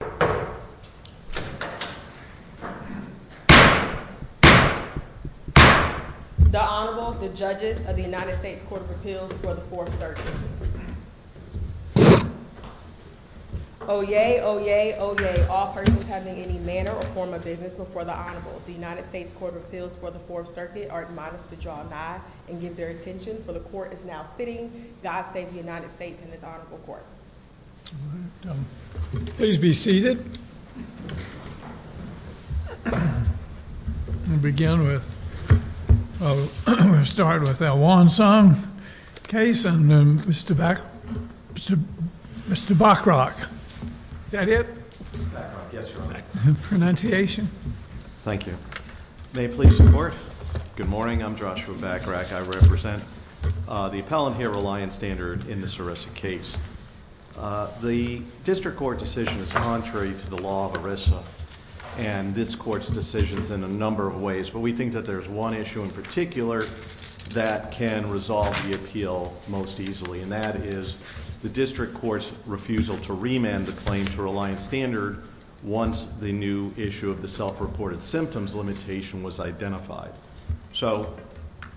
The Honorable, the Judges of the United States Court of Appeals for the Fourth Circuit. Oyez! Oyez! Oyez! All persons having any manner or form of business before the Honorable, the United States Court of Appeals for the Fourth Circuit are admonished to draw nigh and give their attention, for the Court is now sitting. God save the United States and its Honorable Court. All right. Please be seated. We'll begin with, we'll start with the Wonsang case and then Mr. Bachrach. Is that it? Mr. Bachrach, yes, Your Honor. Pronunciation? Thank you. May I please support? Good morning. I'm Joshua Bachrach. I represent the appellant here, Reliance Standard, in this ERISA case. The district court decision is contrary to the law of ERISA and this court's decisions in a number of ways, but we think that there's one issue in particular that can resolve the appeal most easily, and that is the district court's refusal to remand the claim to Reliance Standard once the new issue of the self-reported symptoms limitation was identified. So,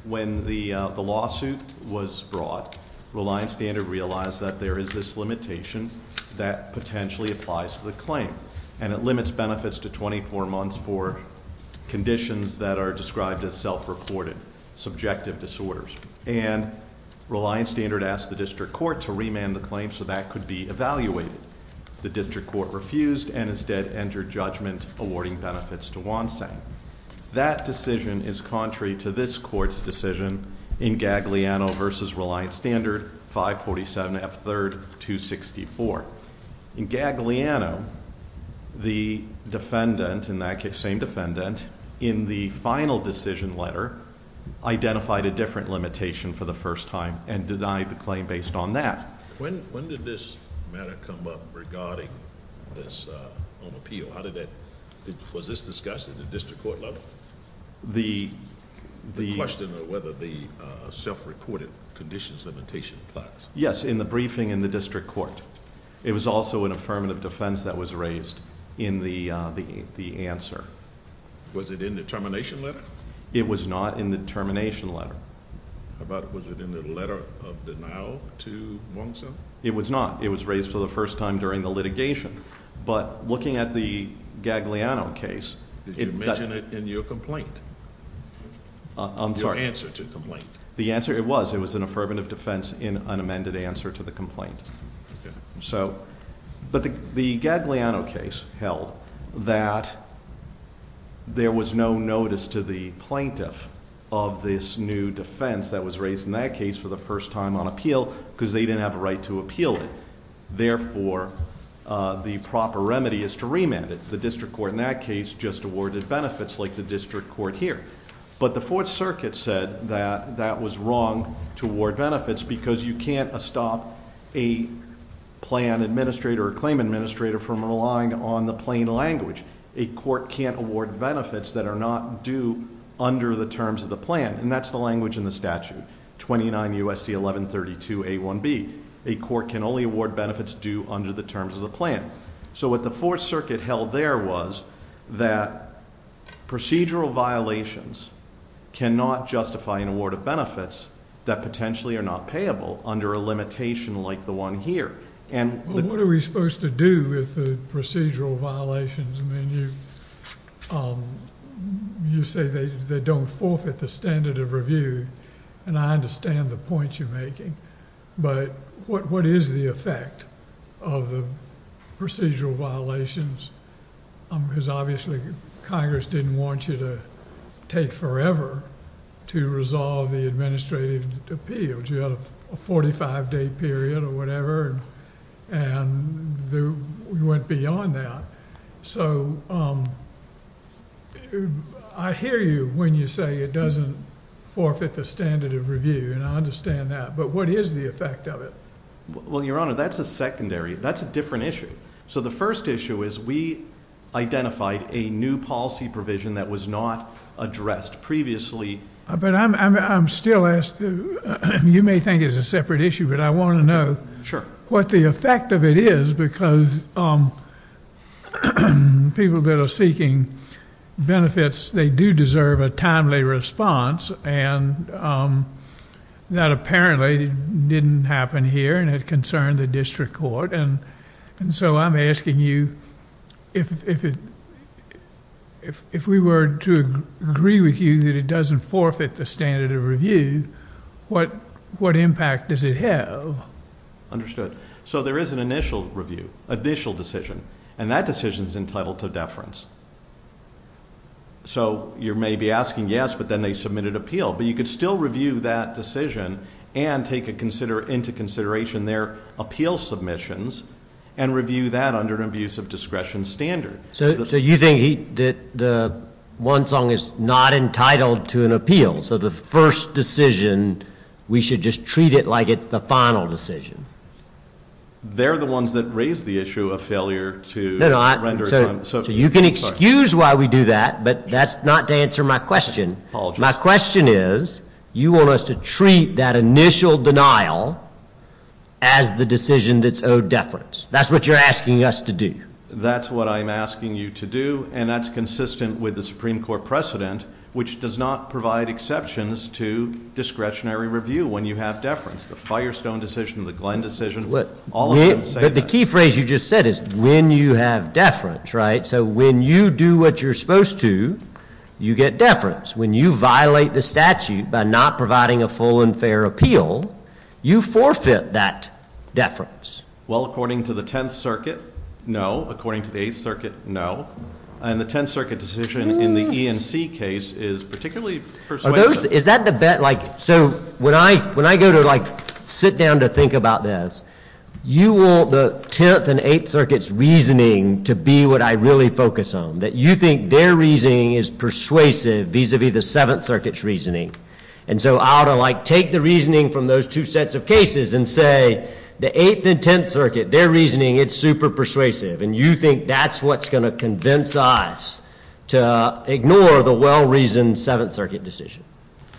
when the lawsuit was brought, Reliance Standard realized that there is this limitation that potentially applies to the claim. And it limits benefits to 24 months for conditions that are described as self-reported subjective disorders. And Reliance Standard asked the district court to remand the claim so that could be evaluated. The district court refused and instead entered judgment awarding benefits to Wonsang. That decision is contrary to this court's decision in Gagliano versus Reliance Standard 547F3-264. In Gagliano, the defendant, in that case, same defendant, in the final decision letter identified a different limitation for the first time and denied the claim based on that. When did this matter come up regarding this on appeal? How did that, was this discussed at the district court level? The- The question of whether the self-reported conditions limitation applies. Yes, in the briefing in the district court. It was also an affirmative defense that was raised in the answer. Was it in the termination letter? It was not in the termination letter. How about, was it in the letter of denial to Wonsang? It was not. It was raised for the first time during the litigation. But looking at the Gagliano case- Did you mention it in your complaint? I'm sorry. Your answer to the complaint. The answer, it was. It was an affirmative defense in an amended answer to the complaint. Okay. So, but the Gagliano case held that there was no notice to the plaintiff of this new defense that was raised in that case for the first time on appeal because they didn't have a right to appeal it. Therefore, the proper remedy is to remand it. The district court in that case just awarded benefits like the district court here. But the Fourth Circuit said that that was wrong to award benefits because you can't stop a plan administrator or claim administrator from relying on the plain language. A court can't award benefits that are not due under the terms of the plan. And that's the language in the statute. 29 U.S.C. 1132 A1B. A court can only award benefits due under the terms of the plan. So, what the Fourth Circuit held there was that procedural violations cannot justify an award of benefits that potentially are not payable under a limitation like the one here. What are we supposed to do with the procedural violations? I mean, you say they don't forfeit the standard of review, and I understand the points you're making. But what is the effect of the procedural violations? Because obviously Congress didn't want you to take forever to resolve the administrative appeals. You had a 45-day period or whatever, and we went beyond that. So, I hear you when you say it doesn't forfeit the standard of review, and I understand that. But what is the effect of it? Well, Your Honor, that's a secondary. That's a different issue. So, the first issue is we identified a new policy provision that was not addressed previously. But I'm still asked. You may think it's a separate issue, but I want to know what the effect of it is. Because people that are seeking benefits, they do deserve a timely response. And that apparently didn't happen here, and it concerned the district court. And so, I'm asking you, if we were to agree with you that it doesn't forfeit the standard of review, what impact does it have? Understood. So, there is an initial review, initial decision, and that decision is entitled to deference. So, you may be asking yes, but then they submitted appeal. But you could still review that decision and take into consideration their appeal submissions and review that under an abuse of discretion standard. So, you think the one song is not entitled to an appeal. So, the first decision, we should just treat it like it's the final decision. They're the ones that raised the issue of failure to render it timely. So, you can excuse why we do that, but that's not to answer my question. My question is, you want us to treat that initial denial as the decision that's owed deference. That's what you're asking us to do. That's what I'm asking you to do, and that's consistent with the Supreme Court precedent, which does not provide exceptions to discretionary review when you have deference. The Firestone decision, the Glenn decision, all of them say that. But the key phrase you just said is when you have deference, right? So, when you do what you're supposed to, you get deference. When you violate the statute by not providing a full and fair appeal, you forfeit that deference. Well, according to the Tenth Circuit, no. According to the Eighth Circuit, no. And the Tenth Circuit decision in the E&C case is particularly persuasive. So, when I go to, like, sit down to think about this, you want the Tenth and Eighth Circuit's reasoning to be what I really focus on, that you think their reasoning is persuasive vis-à-vis the Seventh Circuit's reasoning. And so I ought to, like, take the reasoning from those two sets of cases and say, the Eighth and Tenth Circuit, their reasoning, it's super persuasive, and you think that's what's going to convince us to ignore the well-reasoned Seventh Circuit decision.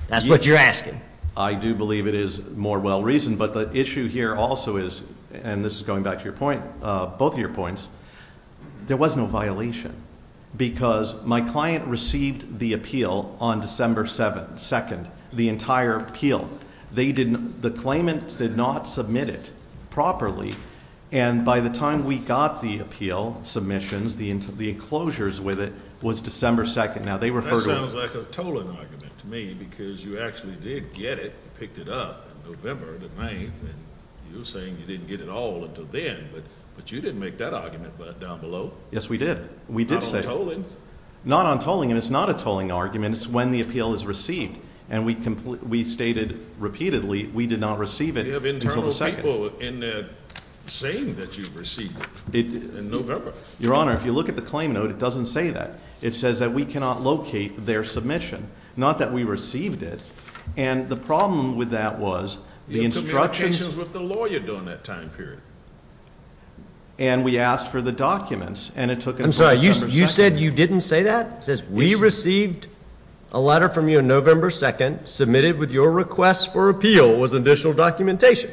That's what you're asking. I do believe it is more well-reasoned. But the issue here also is, and this is going back to your point, both of your points, there was no violation because my client received the appeal on December 2nd, the entire appeal. The claimants did not submit it properly. And by the time we got the appeal submissions, the enclosures with it, was December 2nd. Now, they referred to it. That sounds like a tolling argument to me because you actually did get it, picked it up, in November the 9th, and you're saying you didn't get it all until then, but you didn't make that argument down below. Yes, we did. Not on tolling. Not on tolling, and it's not a tolling argument. It's when the appeal is received. And we stated repeatedly we did not receive it until the 2nd. You have internal people in there saying that you received it in November. Your Honor, if you look at the claim note, it doesn't say that. It says that we cannot locate their submission, not that we received it. And the problem with that was the instructions. It took me locations with the lawyer during that time period. And we asked for the documents, and it took us until December 2nd. I'm sorry, you said you didn't say that? It says we received a letter from you on November 2nd, submitted with your request for appeal, with additional documentation.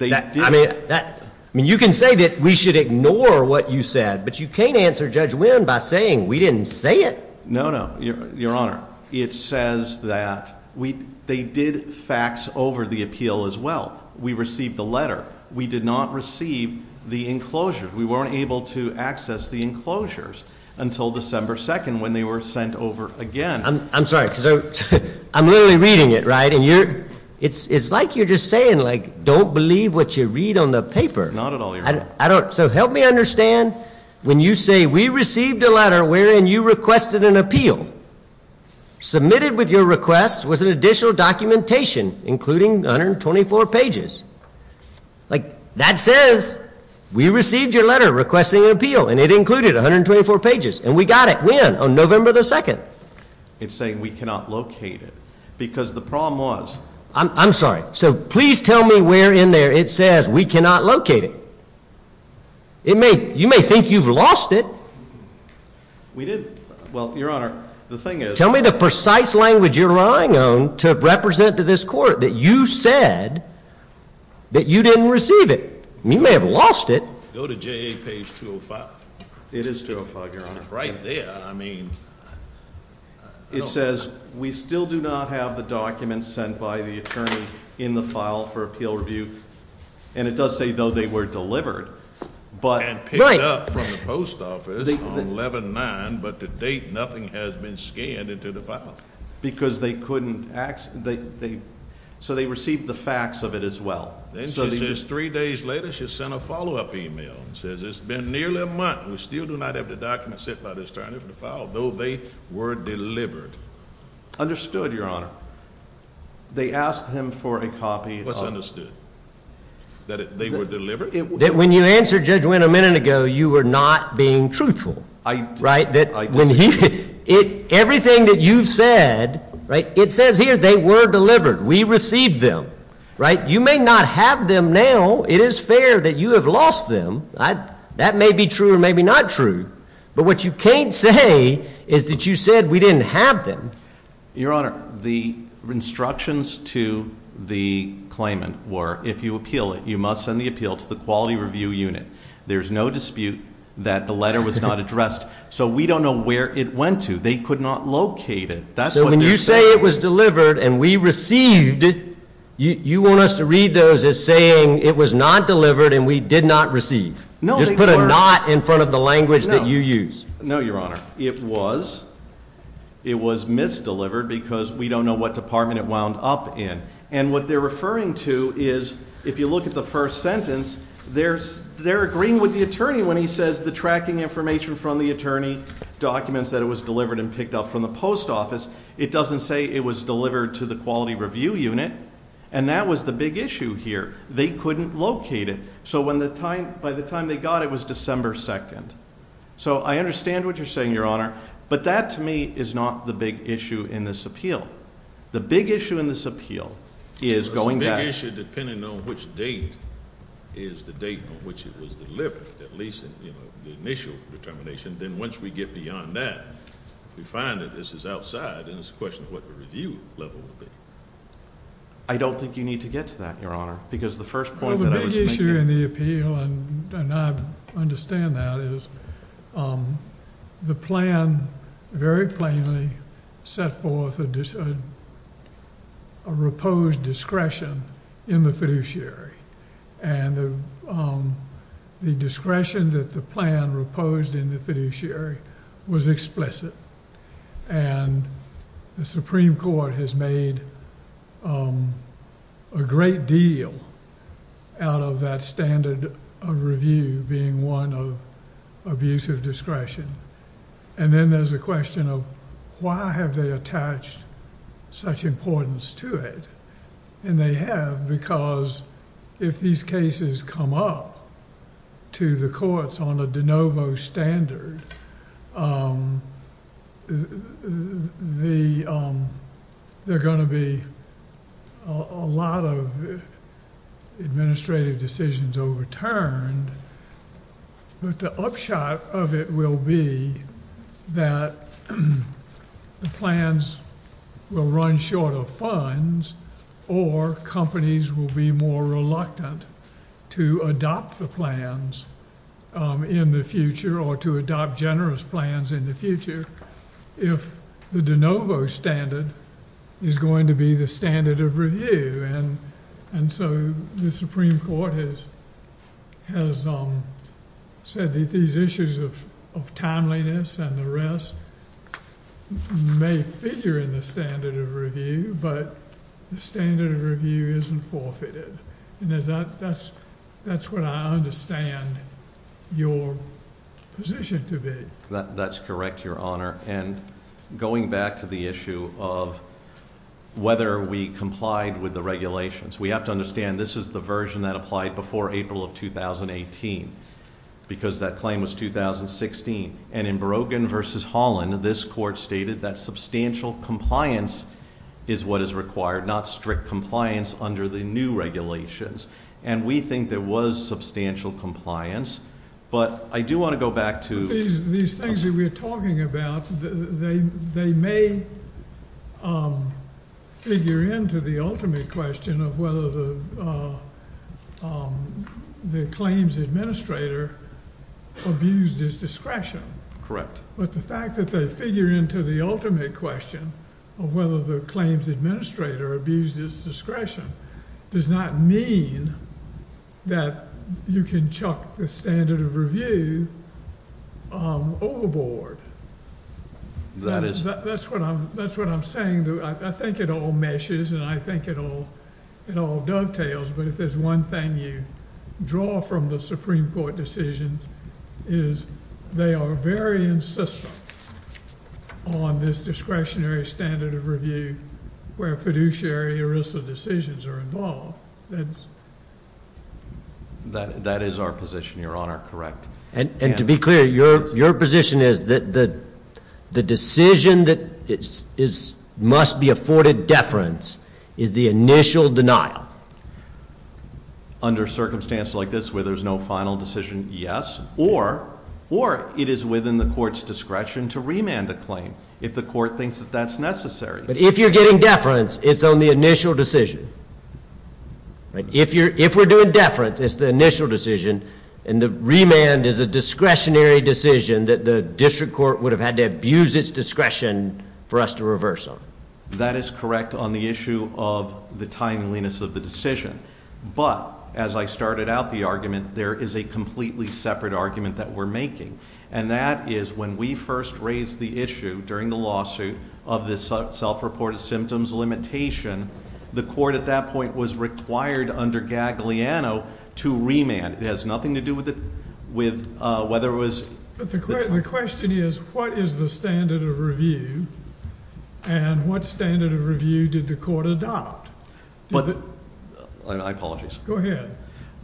I mean, you can say that we should ignore what you said, but you can't answer Judge Wynn by saying we didn't say it. No, no, Your Honor. It says that they did fax over the appeal as well. We received the letter. We did not receive the enclosures. We weren't able to access the enclosures until December 2nd when they were sent over again. I'm sorry, because I'm literally reading it, right? And it's like you're just saying, like, don't believe what you read on the paper. Not at all, Your Honor. So help me understand when you say we received a letter wherein you requested an appeal, submitted with your request was an additional documentation including 124 pages. Like, that says we received your letter requesting an appeal, and it included 124 pages. And we got it. When? On November 2nd. It's saying we cannot locate it because the problem was. I'm sorry. So please tell me where in there it says we cannot locate it. You may think you've lost it. We did. Well, Your Honor, the thing is. Tell me the precise language you're relying on to represent to this court that you said that you didn't receive it. You may have lost it. Go to JA page 205. It is 205, Your Honor. It's right there. I mean. It says we still do not have the documents sent by the attorney in the file for appeal review. And it does say, though, they were delivered. And picked up from the post office on 11-9, but to date nothing has been scanned into the file. Because they couldn't. So they received the fax of it as well. Then she says three days later she sent a follow-up email and says it's been nearly a month. We still do not have the documents sent by the attorney for the file, though they were delivered. Understood, Your Honor. They asked him for a copy. What's understood? That they were delivered? That when you answered Judge Wynn a minute ago, you were not being truthful. Right? That when he. Everything that you've said. Right? It says here they were delivered. We received them. Right? You may not have them now. It is fair that you have lost them. That may be true or maybe not true. But what you can't say is that you said we didn't have them. Your Honor, the instructions to the claimant were if you appeal it, you must send the appeal to the quality review unit. There's no dispute that the letter was not addressed. So we don't know where it went to. They could not locate it. So when you say it was delivered and we received it, you want us to read those as saying it was not delivered and we did not receive. Just put a not in front of the language that you use. No, Your Honor. It was. It was misdelivered because we don't know what department it wound up in. And what they're referring to is if you look at the first sentence, they're agreeing with the attorney when he says the tracking information from the attorney documents that it was delivered and picked up from the post office. It doesn't say it was delivered to the quality review unit. And that was the big issue here. They couldn't locate it. So by the time they got it, it was December 2nd. So I understand what you're saying, Your Honor. But that to me is not the big issue in this appeal. The big issue in this appeal is going back. It's a big issue depending on which date is the date on which it was delivered, at least in the initial determination. Then once we get beyond that, we find that this is outside and it's a question of what the review level would be. I don't think you need to get to that, Your Honor, because the first point that I was making. The issue in the appeal, and I understand that, is the plan very plainly set forth a reposed discretion in the fiduciary. And the discretion that the plan reposed in the fiduciary was explicit. And the Supreme Court has made a great deal out of that standard of review being one of abusive discretion. And then there's a question of why have they attached such importance to it? And they have because if these cases come up to the courts on a de novo standard, there are going to be a lot of administrative decisions overturned. But the upshot of it will be that the plans will run short of funds or companies will be more reluctant to adopt the plans in the future or to adopt generous plans in the future if the de novo standard is going to be the standard of review. And so the Supreme Court has said that these issues of timeliness and the rest may figure in the standard of review, but the standard of review isn't forfeited. And that's what I understand your position to be. That's correct, Your Honor. And going back to the issue of whether we complied with the regulations, we have to understand this is the version that applied before April of 2018 because that claim was 2016. And in Berogan versus Holland, this court stated that substantial compliance is what is required, not strict compliance under the new regulations. And we think there was substantial compliance, but I do want to go back to- These things that we're talking about, they may figure into the ultimate question of whether the claims administrator abused his discretion. Correct. But the fact that they figure into the ultimate question of whether the claims administrator abused his discretion does not mean that you can chuck the standard of review overboard. That is- That's what I'm saying. I think it all meshes and I think it all dovetails, but if there's one thing you draw from the Supreme Court decision is they are very insistent on this discretionary standard of review where fiduciary ERISA decisions are involved. That is our position, Your Honor. Correct. And to be clear, your position is that the decision that must be afforded deference is the initial denial. Under circumstances like this where there's no final decision, yes. Or it is within the court's discretion to remand the claim if the court thinks that that's necessary. But if you're getting deference, it's on the initial decision. If we're doing deference, it's the initial decision, and the remand is a discretionary decision that the district court would have had to abuse its discretion for us to reverse on. That is correct on the issue of the timeliness of the decision. But as I started out the argument, there is a completely separate argument that we're making. And that is when we first raised the issue during the lawsuit of this self-reported symptoms limitation, the court at that point was required under Gagliano to remand. It has nothing to do with whether it was- But the question is what is the standard of review, and what standard of review did the court adopt? I apologize. Go ahead.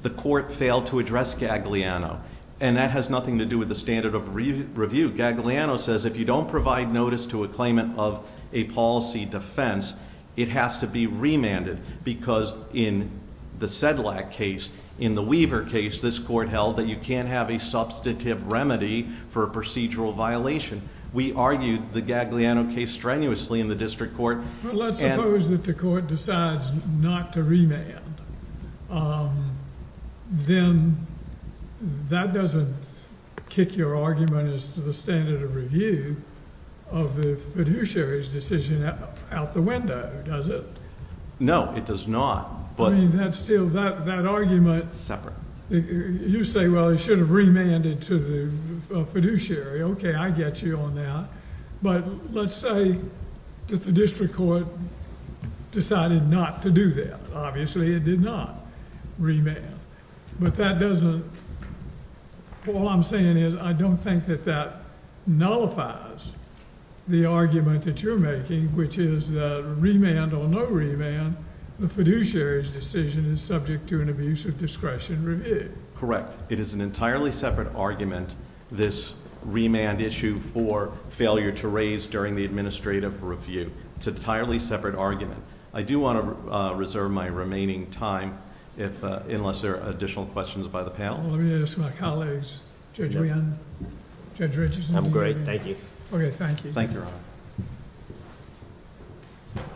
The court failed to address Gagliano, and that has nothing to do with the standard of review. Gagliano says if you don't provide notice to a claimant of a policy defense, it has to be remanded. Because in the Sedlak case, in the Weaver case, this court held that you can't have a substantive remedy for a procedural violation. We argued the Gagliano case strenuously in the district court. Well, let's suppose that the court decides not to remand. Then that doesn't kick your argument as to the standard of review of the fiduciary's decision out the window, does it? No, it does not. I mean, that's still- Separate. You say, well, it should have remanded to the fiduciary. Okay, I get you on that. But let's say that the district court decided not to do that. Obviously, it did not remand. But that doesn't- All I'm saying is I don't think that that nullifies the argument that you're making, which is that remand or no remand, the fiduciary's decision is subject to an abuse of discretion review. Correct. It is an entirely separate argument, this remand issue for failure to raise during the administrative review. It's an entirely separate argument. I do want to reserve my remaining time unless there are additional questions by the panel. Let me introduce my colleagues, Judge Wynn, Judge Richardson. I'm great, thank you. Okay, thank you.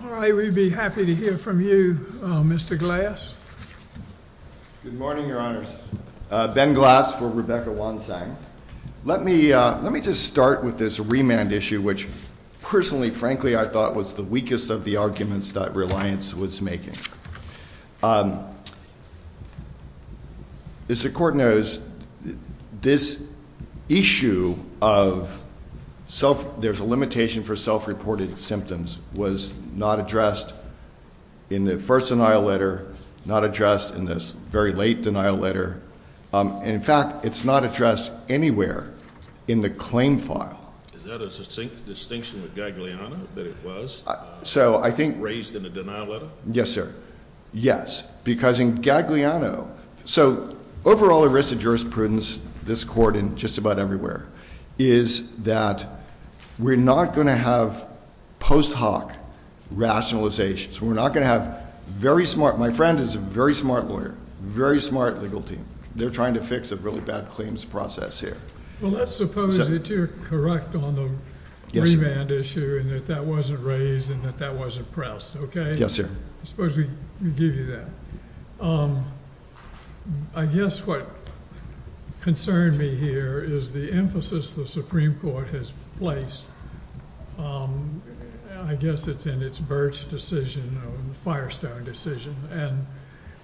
All right, we'd be happy to hear from you, Mr. Glass. Good morning, Your Honors. Ben Glass for Rebecca Wonsang. Let me just start with this remand issue, which personally, frankly, I thought was the weakest of the arguments that Reliance was making. As the court knows, this issue of there's a limitation for self-reported symptoms was not addressed in the first denial letter, not addressed in this very late denial letter. In fact, it's not addressed anywhere in the claim file. Is that a distinct distinction with Gagliano that it was raised in the denial letter? Yes, sir. Yes, because in Gagliano, so overall the risk of jurisprudence, this court and just about everywhere, is that we're not going to have post hoc rationalizations. We're not going to have very smart. My friend is a very smart lawyer, very smart legal team. They're trying to fix a really bad claims process here. Well, let's suppose that you're correct on the remand issue and that that wasn't raised and that that wasn't pressed, okay? Yes, sir. I suppose we give you that. I guess what concerned me here is the emphasis the Supreme Court has placed. I guess it's in its Birch decision, the Firestone decision,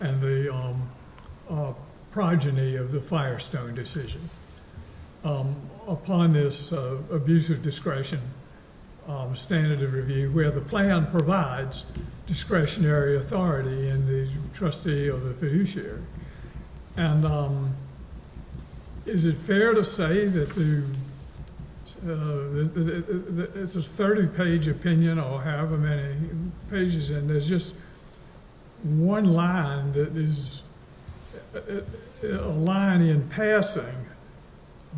and the progeny of the Firestone decision. Upon this abusive discretion standard of review where the plan provides discretionary authority in the trustee of the fiduciary. Is it fair to say that it's a 30-page opinion or however many pages in. There's just one line that is a line in passing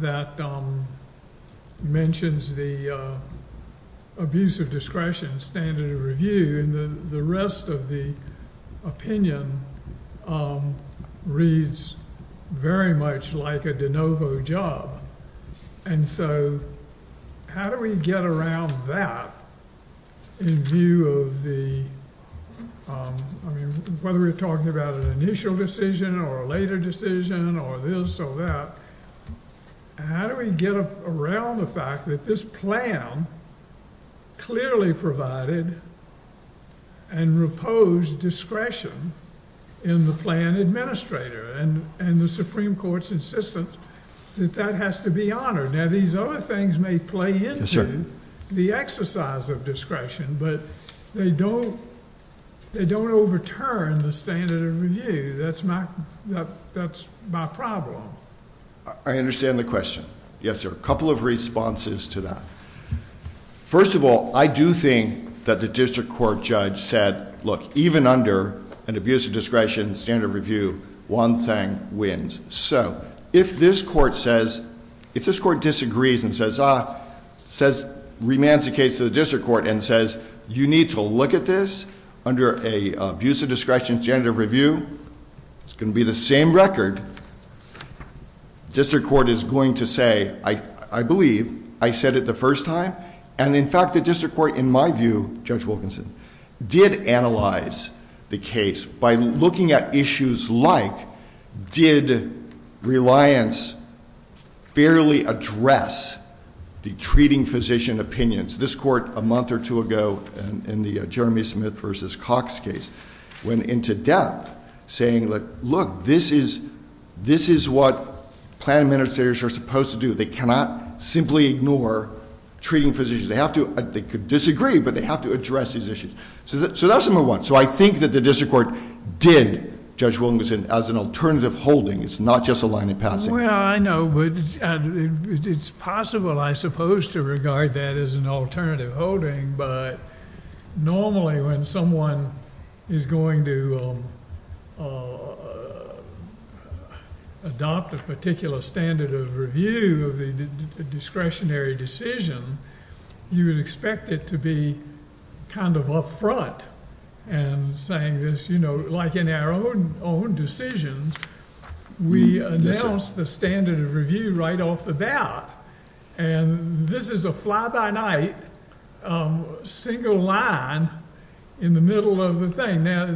that mentions the abusive discretion standard of review, and the rest of the opinion reads very much like a de novo job. And so how do we get around that in view of the, I mean, whether we're talking about an initial decision or a later decision or this or that, how do we get around the fact that this plan clearly provided and reposed discretion in the plan administrator and the Supreme Court's insistence that that has to be honored? Now, these other things may play into the exercise of discretion, but they don't overturn the standard of review. That's my problem. I understand the question. Yes, sir. A couple of responses to that. First of all, I do think that the district court judge said, look, even under an abusive discretion standard of review, one thing wins. So if this court says, if this court disagrees and says, remands the case to the district court and says, you need to look at this under an abusive discretion standard of review, it's going to be the same record. District court is going to say, I believe I said it the first time. And in fact, the district court, in my view, Judge Wilkinson, did analyze the case by looking at issues like, did reliance fairly address the treating physician opinions? This court, a month or two ago, in the Jeremy Smith versus Cox case, went into depth saying, look, this is what plan administrators are supposed to do. They cannot simply ignore treating physicians. They could disagree, but they have to address these issues. So that's number one. So I think that the district court did, Judge Wilkinson, as an alternative holding. It's not just a line of passing. Well, I know. It's possible, I suppose, to regard that as an alternative holding. But normally, when someone is going to adopt a particular standard of review of the discretionary decision, you would expect it to be kind of up front and saying this. You know, like in our own decisions, we announce the standard of review right off the bat. And this is a fly-by-night single line in the middle of the thing. Now,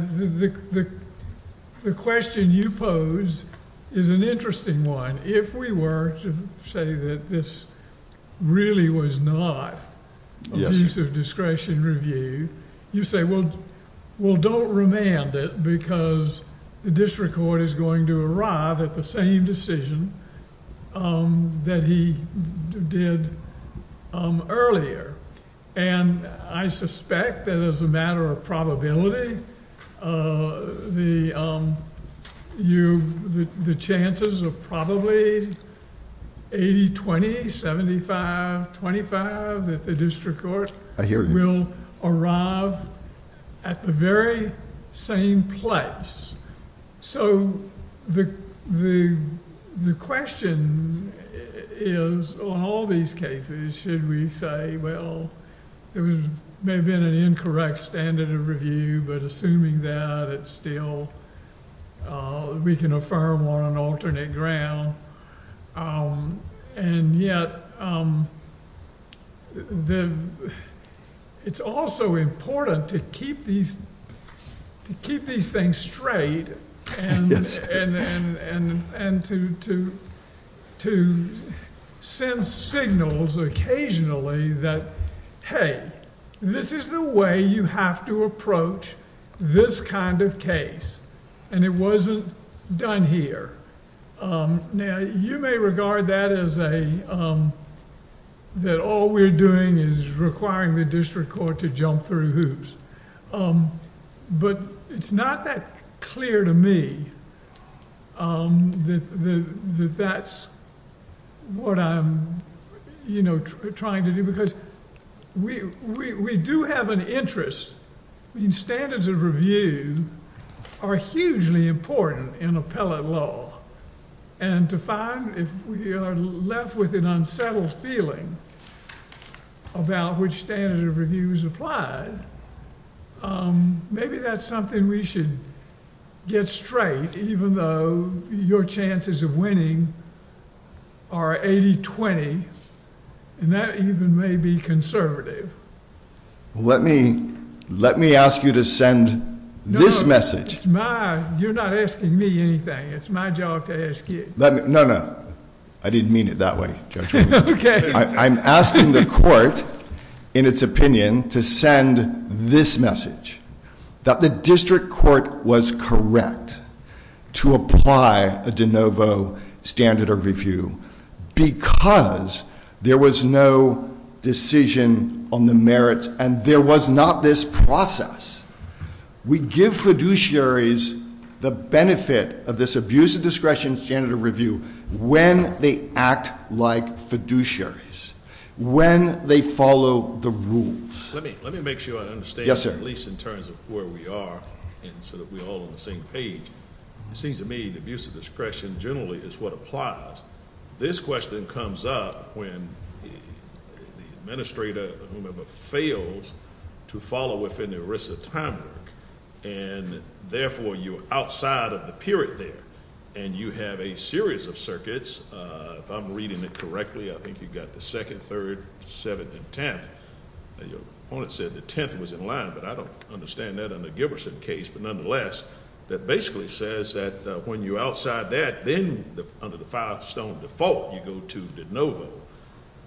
the question you pose is an interesting one. If we were to say that this really was not abuse of discretion review, you say, well, don't remand it because the district court is going to arrive at the same decision that he did earlier. And I suspect that as a matter of probability, the chances are probably 80-20, 75-25 that the district court... I hear you.... will arrive at the very same place. So the question is on all these cases, should we say, well, there may have been an incorrect standard of review, but assuming that, it's still... we can affirm on an alternate ground. And yet, it's also important to keep these things straight... to send signals occasionally that, hey, this is the way you have to approach this kind of case. And it wasn't done here. Now, you may regard that as a... that all we're doing is requiring the district court to jump through hoops. But, it's not that clear to me that that's what I'm, you know, trying to do. Because, we do have an interest in standards of review are hugely important in appellate law. And to find, if we are left with an unsettled feeling about which standard of review is applied... maybe that's something we should get straight, even though your chances of winning are 80-20. And that even may be conservative. Let me... let me ask you to send this message. It's my... you're not asking me anything. It's my job to ask you. Let me... no, no. I didn't mean it that way, Judge Williams. Okay. I'm asking the court, in its opinion, to send this message. That the district court was correct to apply a de novo standard of review. Because, there was no decision on the merits and there was not this process. We give fiduciaries the benefit of this abuse of discretion standard of review when they act like fiduciaries. When they follow the rules. Let me... let me make sure I understand. Yes, sir. At least in terms of where we are, and so that we're all on the same page. It seems to me that abuse of discretion, generally, is what applies. This question comes up when the administrator, whomever, fails to follow within the ERISA time mark. And, therefore, you're outside of the period there. And you have a series of circuits. If I'm reading it correctly, I think you've got the second, third, seventh, and tenth. Your opponent said the tenth was in line, but I don't understand that under Giberson's case. But, nonetheless, that basically says that when you're outside that, then under the five stone default, you go to de novo.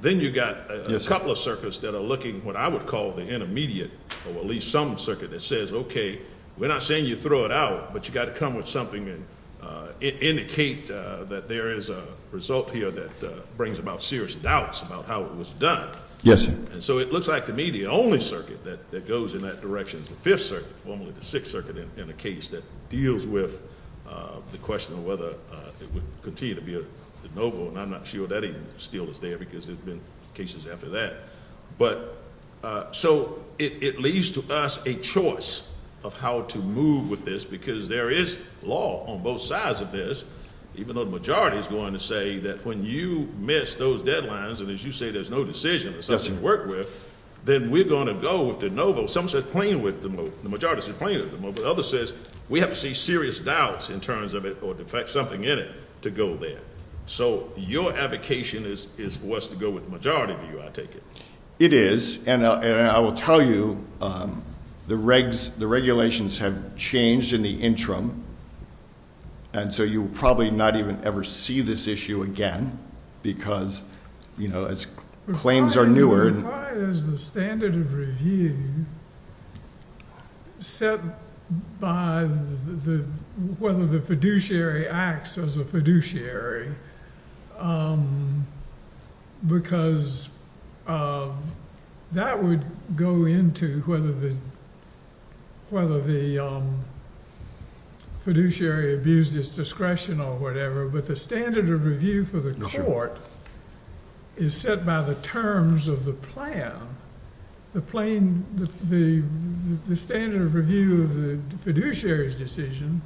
Then you've got a couple of circuits that are looking, what I would call the intermediate, or at least some circuit that says, okay, we're not saying you throw it out. But, you've got to come with something and indicate that there is a result here that brings about serious doubts about how it was done. Yes, sir. And, so, it looks like to me the only circuit that goes in that direction is the fifth circuit, formerly the sixth circuit in a case that deals with the question of whether it would continue to be a de novo. And I'm not sure that even still is there because there have been cases after that. But, so, it leaves to us a choice of how to move with this because there is law on both sides of this, even though the majority is going to say that when you miss those deadlines, and as you say, there's no decision or something to work with, then we're going to go with de novo. Some say plain with the majority, but others say we have to see serious doubts in terms of it or defect something in it to go there. So, your advocation is for us to go with the majority view, I take it. It is, and I will tell you the regulations have changed in the interim. And, so, you will probably not even ever see this issue again because, you know, claims are newer. Why is the standard of review set by whether the fiduciary acts as a fiduciary? Because that would go into whether the fiduciary abused its discretion or whatever. But the standard of review for the court is set by the terms of the plan. The standard of review of the fiduciary's decision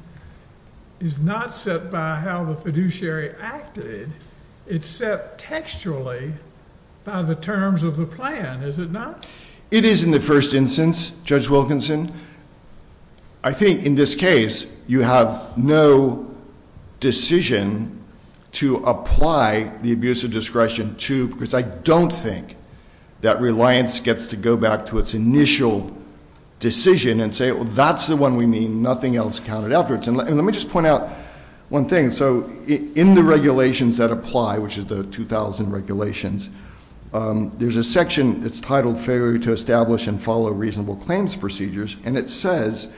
is not set by how the fiduciary acted. It's set textually by the terms of the plan, is it not? It is in the first instance, Judge Wilkinson. I think, in this case, you have no decision to apply the abuse of discretion to, because I don't think that reliance gets to go back to its initial decision and say, well, that's the one we mean, nothing else counted afterwards. And let me just point out one thing. So, in the regulations that apply, which are the 2,000 regulations, there's a section that's titled Failure to Establish and Follow Reasonable Claims Procedures, and it says,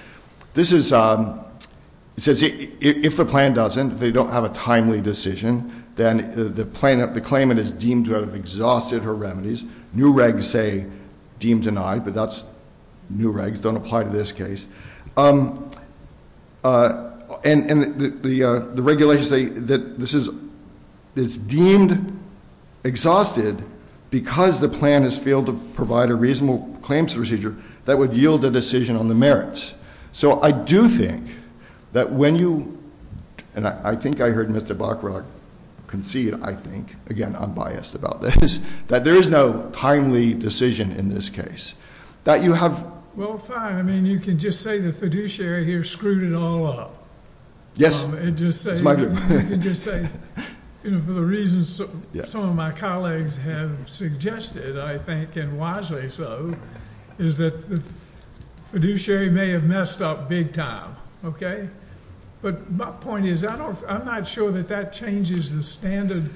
if the plan doesn't, if they don't have a timely decision, then the claimant is deemed to have exhausted her remedies. New regs say deemed denied, but that's new regs, don't apply to this case. And the regulations say that this is deemed exhausted because the plan has failed to provide a reasonable claims procedure that would yield a decision on the merits. So, I do think that when you, and I think I heard Mr. Bachrach concede, I think, again, I'm biased about this, that there is no timely decision in this case. Well, fine. I mean, you can just say the fiduciary here screwed it all up. Yes, that's my view. You know, for the reasons some of my colleagues have suggested, I think, and wisely so, is that the fiduciary may have messed up big time, okay? But my point is, I'm not sure that that changes the standard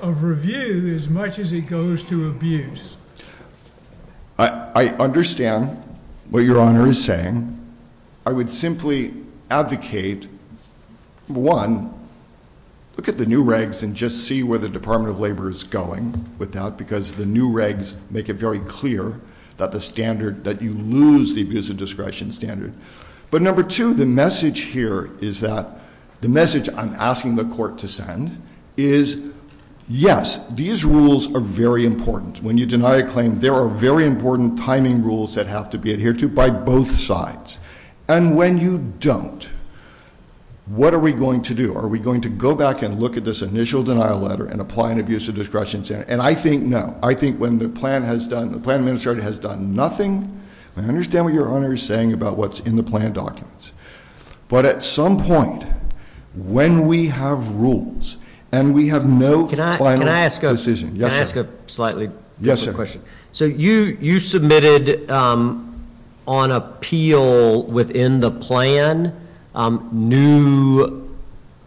of review as much as it goes to abuse. I understand what Your Honor is saying. I would simply advocate, one, look at the new regs and just see where the Department of Labor is going with that, because the new regs make it very clear that the standard, that you lose the abuse of discretion standard. But number two, the message here is that, the message I'm asking the court to send is, yes, these rules are very important. When you deny a claim, there are very important timing rules that have to be adhered to by both sides. And when you don't, what are we going to do? Are we going to go back and look at this initial denial letter and apply an abuse of discretion standard? And I think no. I think when the plan has done, the plan administrator has done nothing. I understand what Your Honor is saying about what's in the plan documents. But at some point, when we have rules and we have no final decision- Yes, sir. So you submitted on appeal within the plan new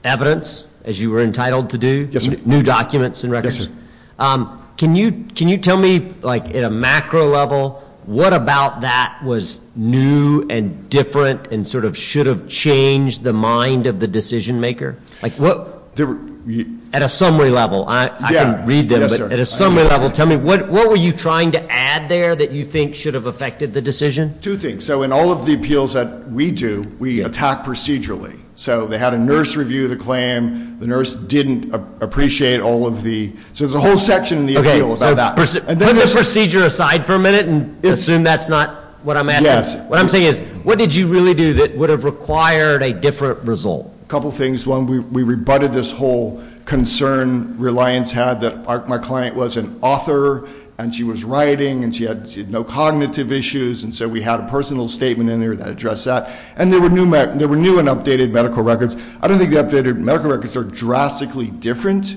evidence, as you were entitled to do? Yes, sir. New documents and records? Yes, sir. Can you tell me, like in a macro level, what about that was new and different and sort of should have changed the mind of the decision maker? At a summary level, I can read them. Yes, sir. At a summary level, tell me, what were you trying to add there that you think should have affected the decision? Two things. So in all of the appeals that we do, we attack procedurally. So they had a nurse review the claim. The nurse didn't appreciate all of the – so there's a whole section in the appeal about that. Put the procedure aside for a minute and assume that's not what I'm asking. Yes. What I'm saying is, what did you really do that would have required a different result? A couple things. One, we rebutted this whole concern Reliance had that my client was an author, and she was writing, and she had no cognitive issues. And so we had a personal statement in there that addressed that. And there were new and updated medical records. I don't think the updated medical records are drastically different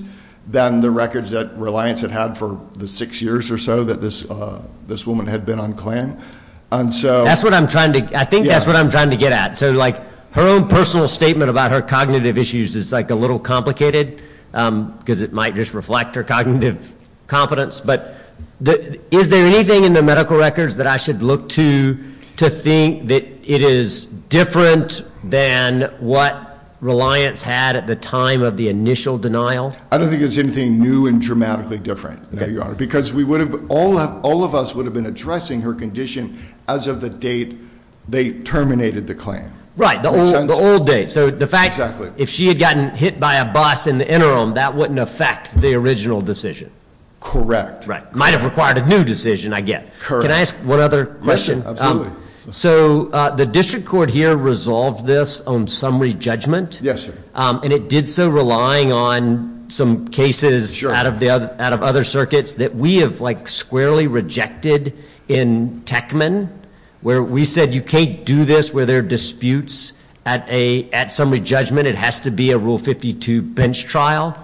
than the records that Reliance had had for the six years or so that this woman had been on CLAN. That's what I'm trying to – I think that's what I'm trying to get at. So, like, her own personal statement about her cognitive issues is, like, a little complicated because it might just reflect her cognitive competence. But is there anything in the medical records that I should look to to think that it is different than what Reliance had at the time of the initial denial? I don't think there's anything new and dramatically different, Your Honor, because we would have – all of us would have been addressing her condition as of the date they terminated the CLAN. Right, the old date. So the fact – Exactly. If she had gotten hit by a bus in the interim, that wouldn't affect the original decision. Correct. Right. Might have required a new decision, I get. Correct. Can I ask one other question? Absolutely. So the district court here resolved this on summary judgment? Yes, sir. And it did so relying on some cases out of other circuits that we have, like, squarely rejected in Techman, where we said you can't do this where there are disputes at summary judgment. It has to be a Rule 52 bench trial.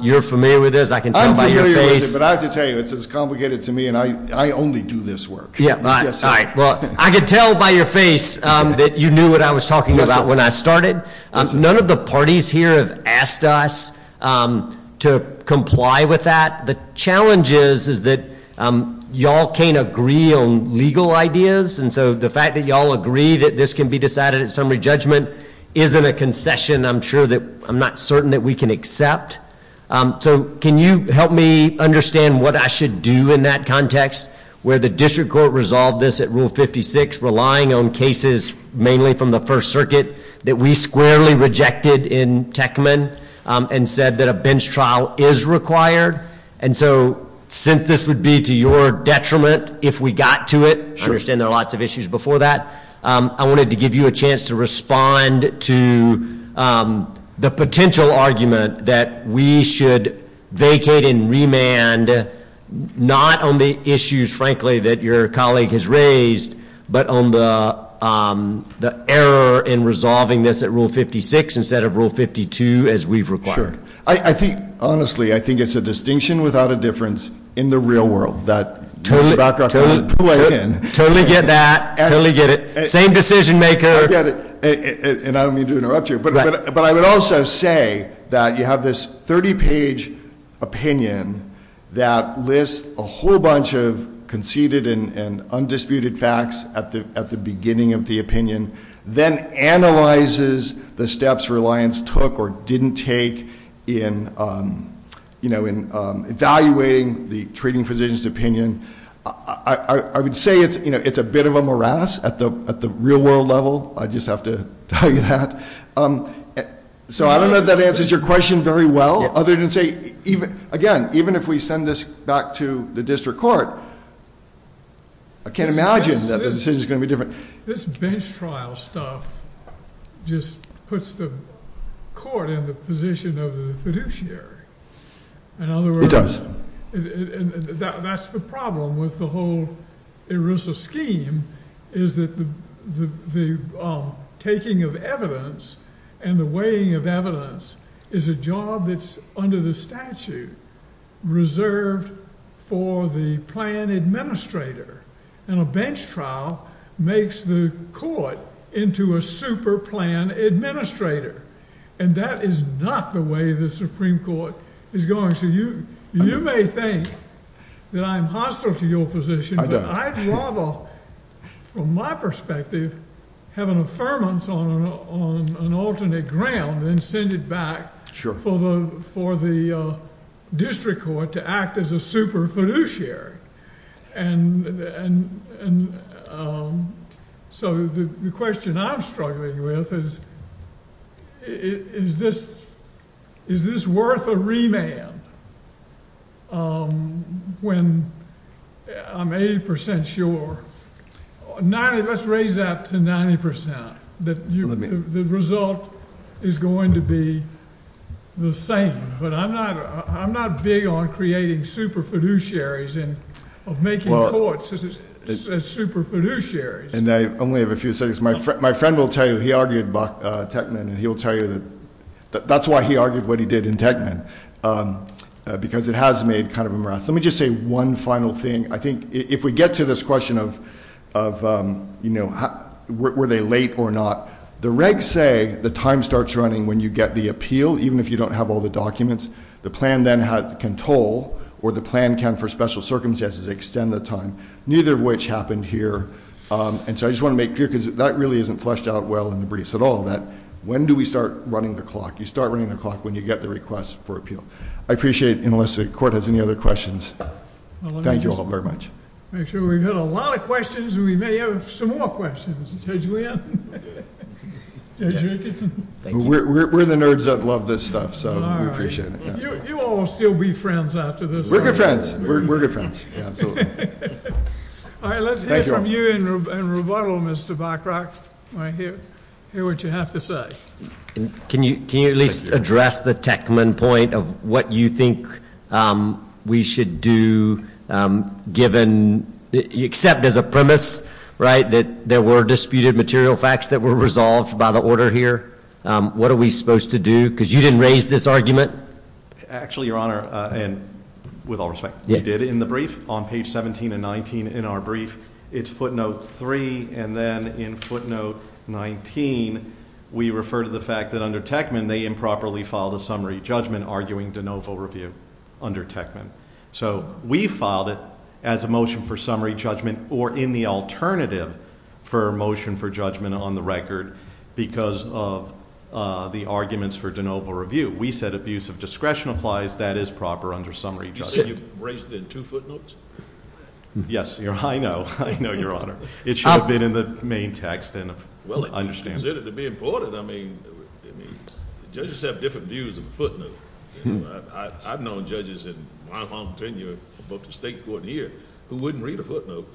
You're familiar with this. I can tell by your face. I'm familiar with it, but I have to tell you it's as complicated to me, and I only do this work. Yes, sir. All right. Well, I can tell by your face that you knew what I was talking about when I started. None of the parties here have asked us to comply with that. The challenge is that y'all can't agree on legal ideas, and so the fact that y'all agree that this can be decided at summary judgment isn't a concession, I'm sure, that I'm not certain that we can accept. So can you help me understand what I should do in that context, where the district court resolved this at Rule 56, relying on cases mainly from the First Circuit that we squarely rejected in Techman and said that a bench trial is required? And so since this would be to your detriment if we got to it, I understand there are lots of issues before that, I wanted to give you a chance to respond to the potential argument that we should vacate and remand not on the issues, frankly, that your colleague has raised, but on the error in resolving this at Rule 56 instead of Rule 52 as we've required. Honestly, I think it's a distinction without a difference in the real world. Totally get that. Totally get it. Same decision maker. I get it. And I don't mean to interrupt you. But I would also say that you have this 30-page opinion that lists a whole bunch of conceded and undisputed facts at the beginning of the opinion, then analyzes the steps Reliance took or didn't take in evaluating the treating physician's opinion. I would say it's a bit of a morass at the real world level. I just have to tell you that. So I don't know if that answers your question very well, other than to say, again, even if we send this back to the district court, I can't imagine that the decision is going to be different. This bench trial stuff just puts the court in the position of the fiduciary. It does. That's the problem with the whole ERISA scheme is that the taking of evidence and the weighing of evidence is a job that's under the statute reserved for the plan administrator. And a bench trial makes the court into a super plan administrator. And that is not the way the Supreme Court is going. So you may think that I'm hostile to your position. I'd rather, from my perspective, have an affirmance on an alternate ground than send it back for the district court to act as a super fiduciary. And so the question I'm struggling with is, is this worth a remand when I'm 80% sure? Let's raise that to 90%. The result is going to be the same. But I'm not big on creating super fiduciaries and of making courts as super fiduciaries. And I only have a few seconds. My friend will tell you he argued Techman, and he'll tell you that that's why he argued what he did in Techman, because it has made kind of a morass. Let me just say one final thing. I think if we get to this question of were they late or not, the regs say the time starts running when you get the appeal, even if you don't have all the documents. The plan then can toll, or the plan can, for special circumstances, extend the time, neither of which happened here. And so I just want to make clear, because that really isn't fleshed out well in the briefs at all, that when do we start running the clock? You start running the clock when you get the request for appeal. I appreciate it, unless the court has any other questions. Thank you all very much. Make sure we've had a lot of questions, and we may have some more questions. Judge Wynn? Judge Richardson? We're the nerds that love this stuff, so we appreciate it. You all will still be friends after this. We're good friends. We're good friends. All right, let's hear from you in rebuttal, Mr. Bachrock. Hear what you have to say. Can you at least address the Techman point of what you think we should do, given, except as a premise, right, that there were disputed material facts that were resolved by the order here? What are we supposed to do? Because you didn't raise this argument. Actually, Your Honor, and with all respect, we did in the brief, on page 17 and 19 in our brief. It's footnote 3, and then in footnote 19, we refer to the fact that under Techman, they improperly filed a summary judgment arguing de novo review under Techman. So we filed it as a motion for summary judgment or in the alternative for motion for judgment on the record because of the arguments for de novo review. We said abuse of discretion applies. That is proper under summary judgment. You said you raised it in two footnotes? Yes, Your Honor. I know. I know, Your Honor. It should have been in the main text and understandable. Well, it was considered to be important. I mean, judges have different views of the footnote. I've known judges in my long tenure above the state court here who wouldn't read a footnote.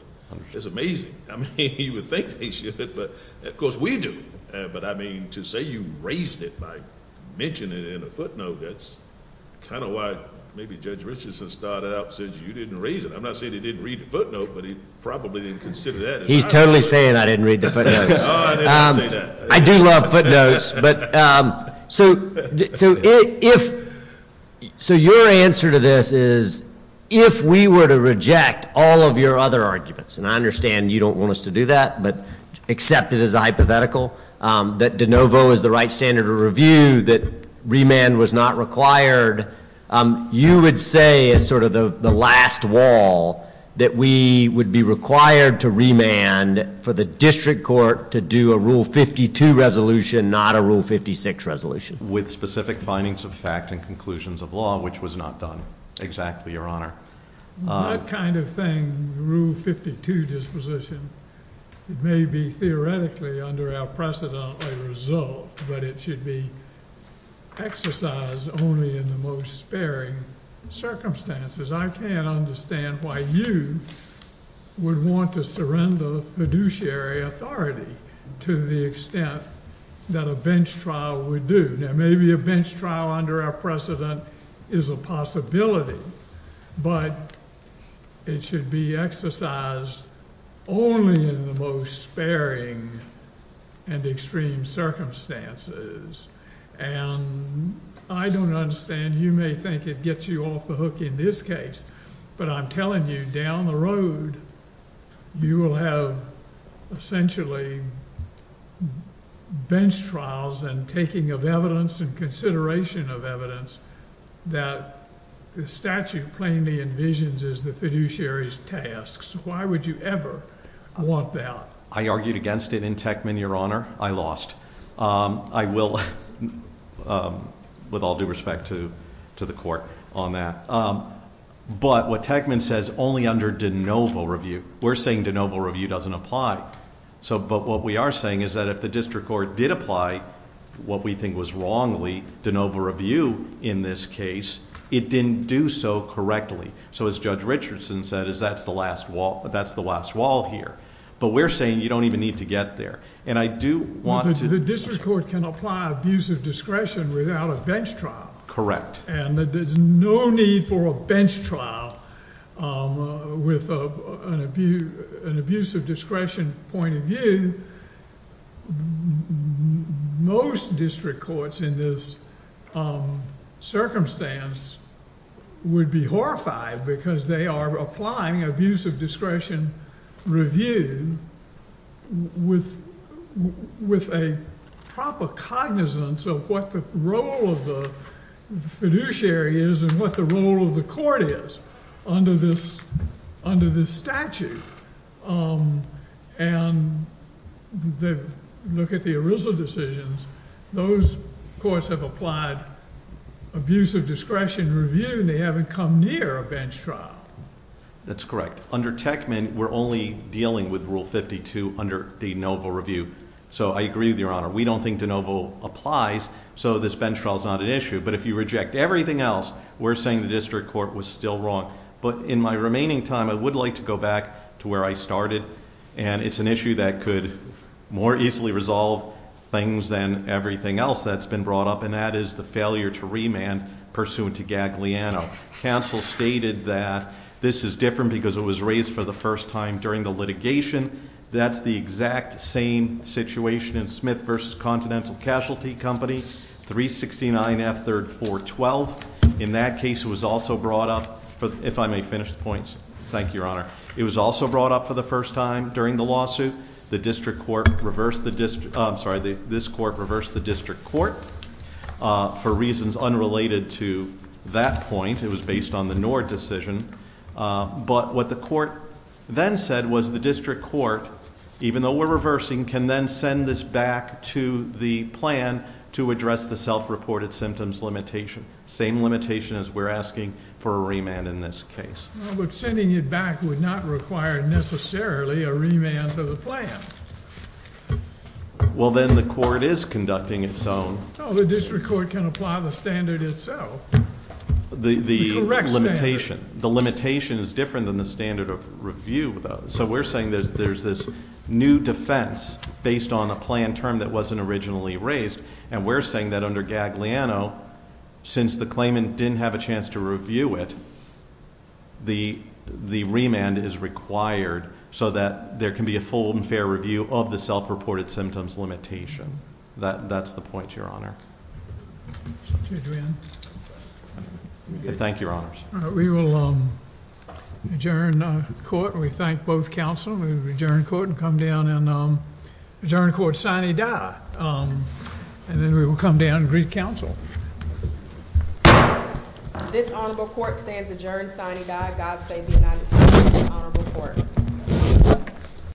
It's amazing. I mean, you would think they should, but of course we do. But, I mean, to say you raised it by mentioning it in a footnote, that's kind of why maybe Judge Richardson started out and said you didn't raise it. I'm not saying he didn't read the footnote, but he probably didn't consider that. He's totally saying I didn't read the footnotes. Oh, I didn't say that. I do love footnotes. So your answer to this is if we were to reject all of your other arguments, and I understand you don't want us to do that, but accept it as a hypothetical, that de novo is the right standard of review, that remand was not required, you would say as sort of the last wall that we would be required to remand for the district court to do a Rule 52 resolution, not a Rule 56 resolution. With specific findings of fact and conclusions of law, which was not done exactly, Your Honor. That kind of thing, Rule 52 disposition, may be theoretically under our precedent a result, but it should be exercised only in the most sparing circumstances. I can't understand why you would want to surrender fiduciary authority to the extent that a bench trial would do. Maybe a bench trial under our precedent is a possibility, but it should be exercised only in the most sparing and extreme circumstances. And I don't understand. You may think it gets you off the hook in this case, but I'm telling you, down the road, you will have essentially bench trials and taking of evidence and consideration of evidence that the statute plainly envisions as the fiduciary's tasks. Why would you ever want that? I argued against it in Techman, Your Honor. I lost. I will, with all due respect to the court on that. But what Techman says, only under de novo review. We're saying de novo review doesn't apply. But what we are saying is that if the district court did apply what we think was wrongly de novo review in this case, it didn't do so correctly. So as Judge Richardson said, that's the last wall here. But we're saying you don't even need to get there. And I do want to... Well, the district court can apply abusive discretion without a bench trial. Correct. And there's no need for a bench trial with an abusive discretion point of view. Most district courts in this circumstance would be horrified because they are applying abusive discretion review with a proper cognizance of what the role of the fiduciary is and what the role of the court is under this statute. And look at the ERISA decisions. Those courts have applied abusive discretion review, and they haven't come near a bench trial. That's correct. But under Techman, we're only dealing with Rule 52 under de novo review. So I agree with Your Honor. We don't think de novo applies, so this bench trial is not an issue. But if you reject everything else, we're saying the district court was still wrong. But in my remaining time, I would like to go back to where I started. And it's an issue that could more easily resolve things than everything else that's been brought up, and that is the failure to remand pursuant to Gagliano. Counsel stated that this is different because it was raised for the first time during the litigation. That's the exact same situation in Smith v. Continental Casualty Company, 369 F. 3rd 412. In that case, it was also brought up, if I may finish the points. Thank you, Your Honor. It was also brought up for the first time during the lawsuit. The district court reversed the district, I'm sorry, this court reversed the district court for reasons unrelated to that point. It was based on the Nord decision. But what the court then said was the district court, even though we're reversing, can then send this back to the plan to address the self-reported symptoms limitation. Same limitation as we're asking for a remand in this case. Well, but sending it back would not require necessarily a remand to the plan. Well, then the court is conducting its own. No, the district court can apply the standard itself. The correct standard. The limitation is different than the standard of review, though. So we're saying there's this new defense based on a plan term that wasn't originally raised. And we're saying that under Gagliano, since the claimant didn't have a chance to review it, the remand is required so that there can be a full and fair review of the self-reported symptoms limitation. That's the point, Your Honor. Judge Wynn. Thank you, Your Honors. We will adjourn court. We thank both counsel. We will adjourn court and come down and adjourn court sine die. And then we will come down and greet counsel. This honorable court stands adjourned sine die. God save the United States of this honorable court.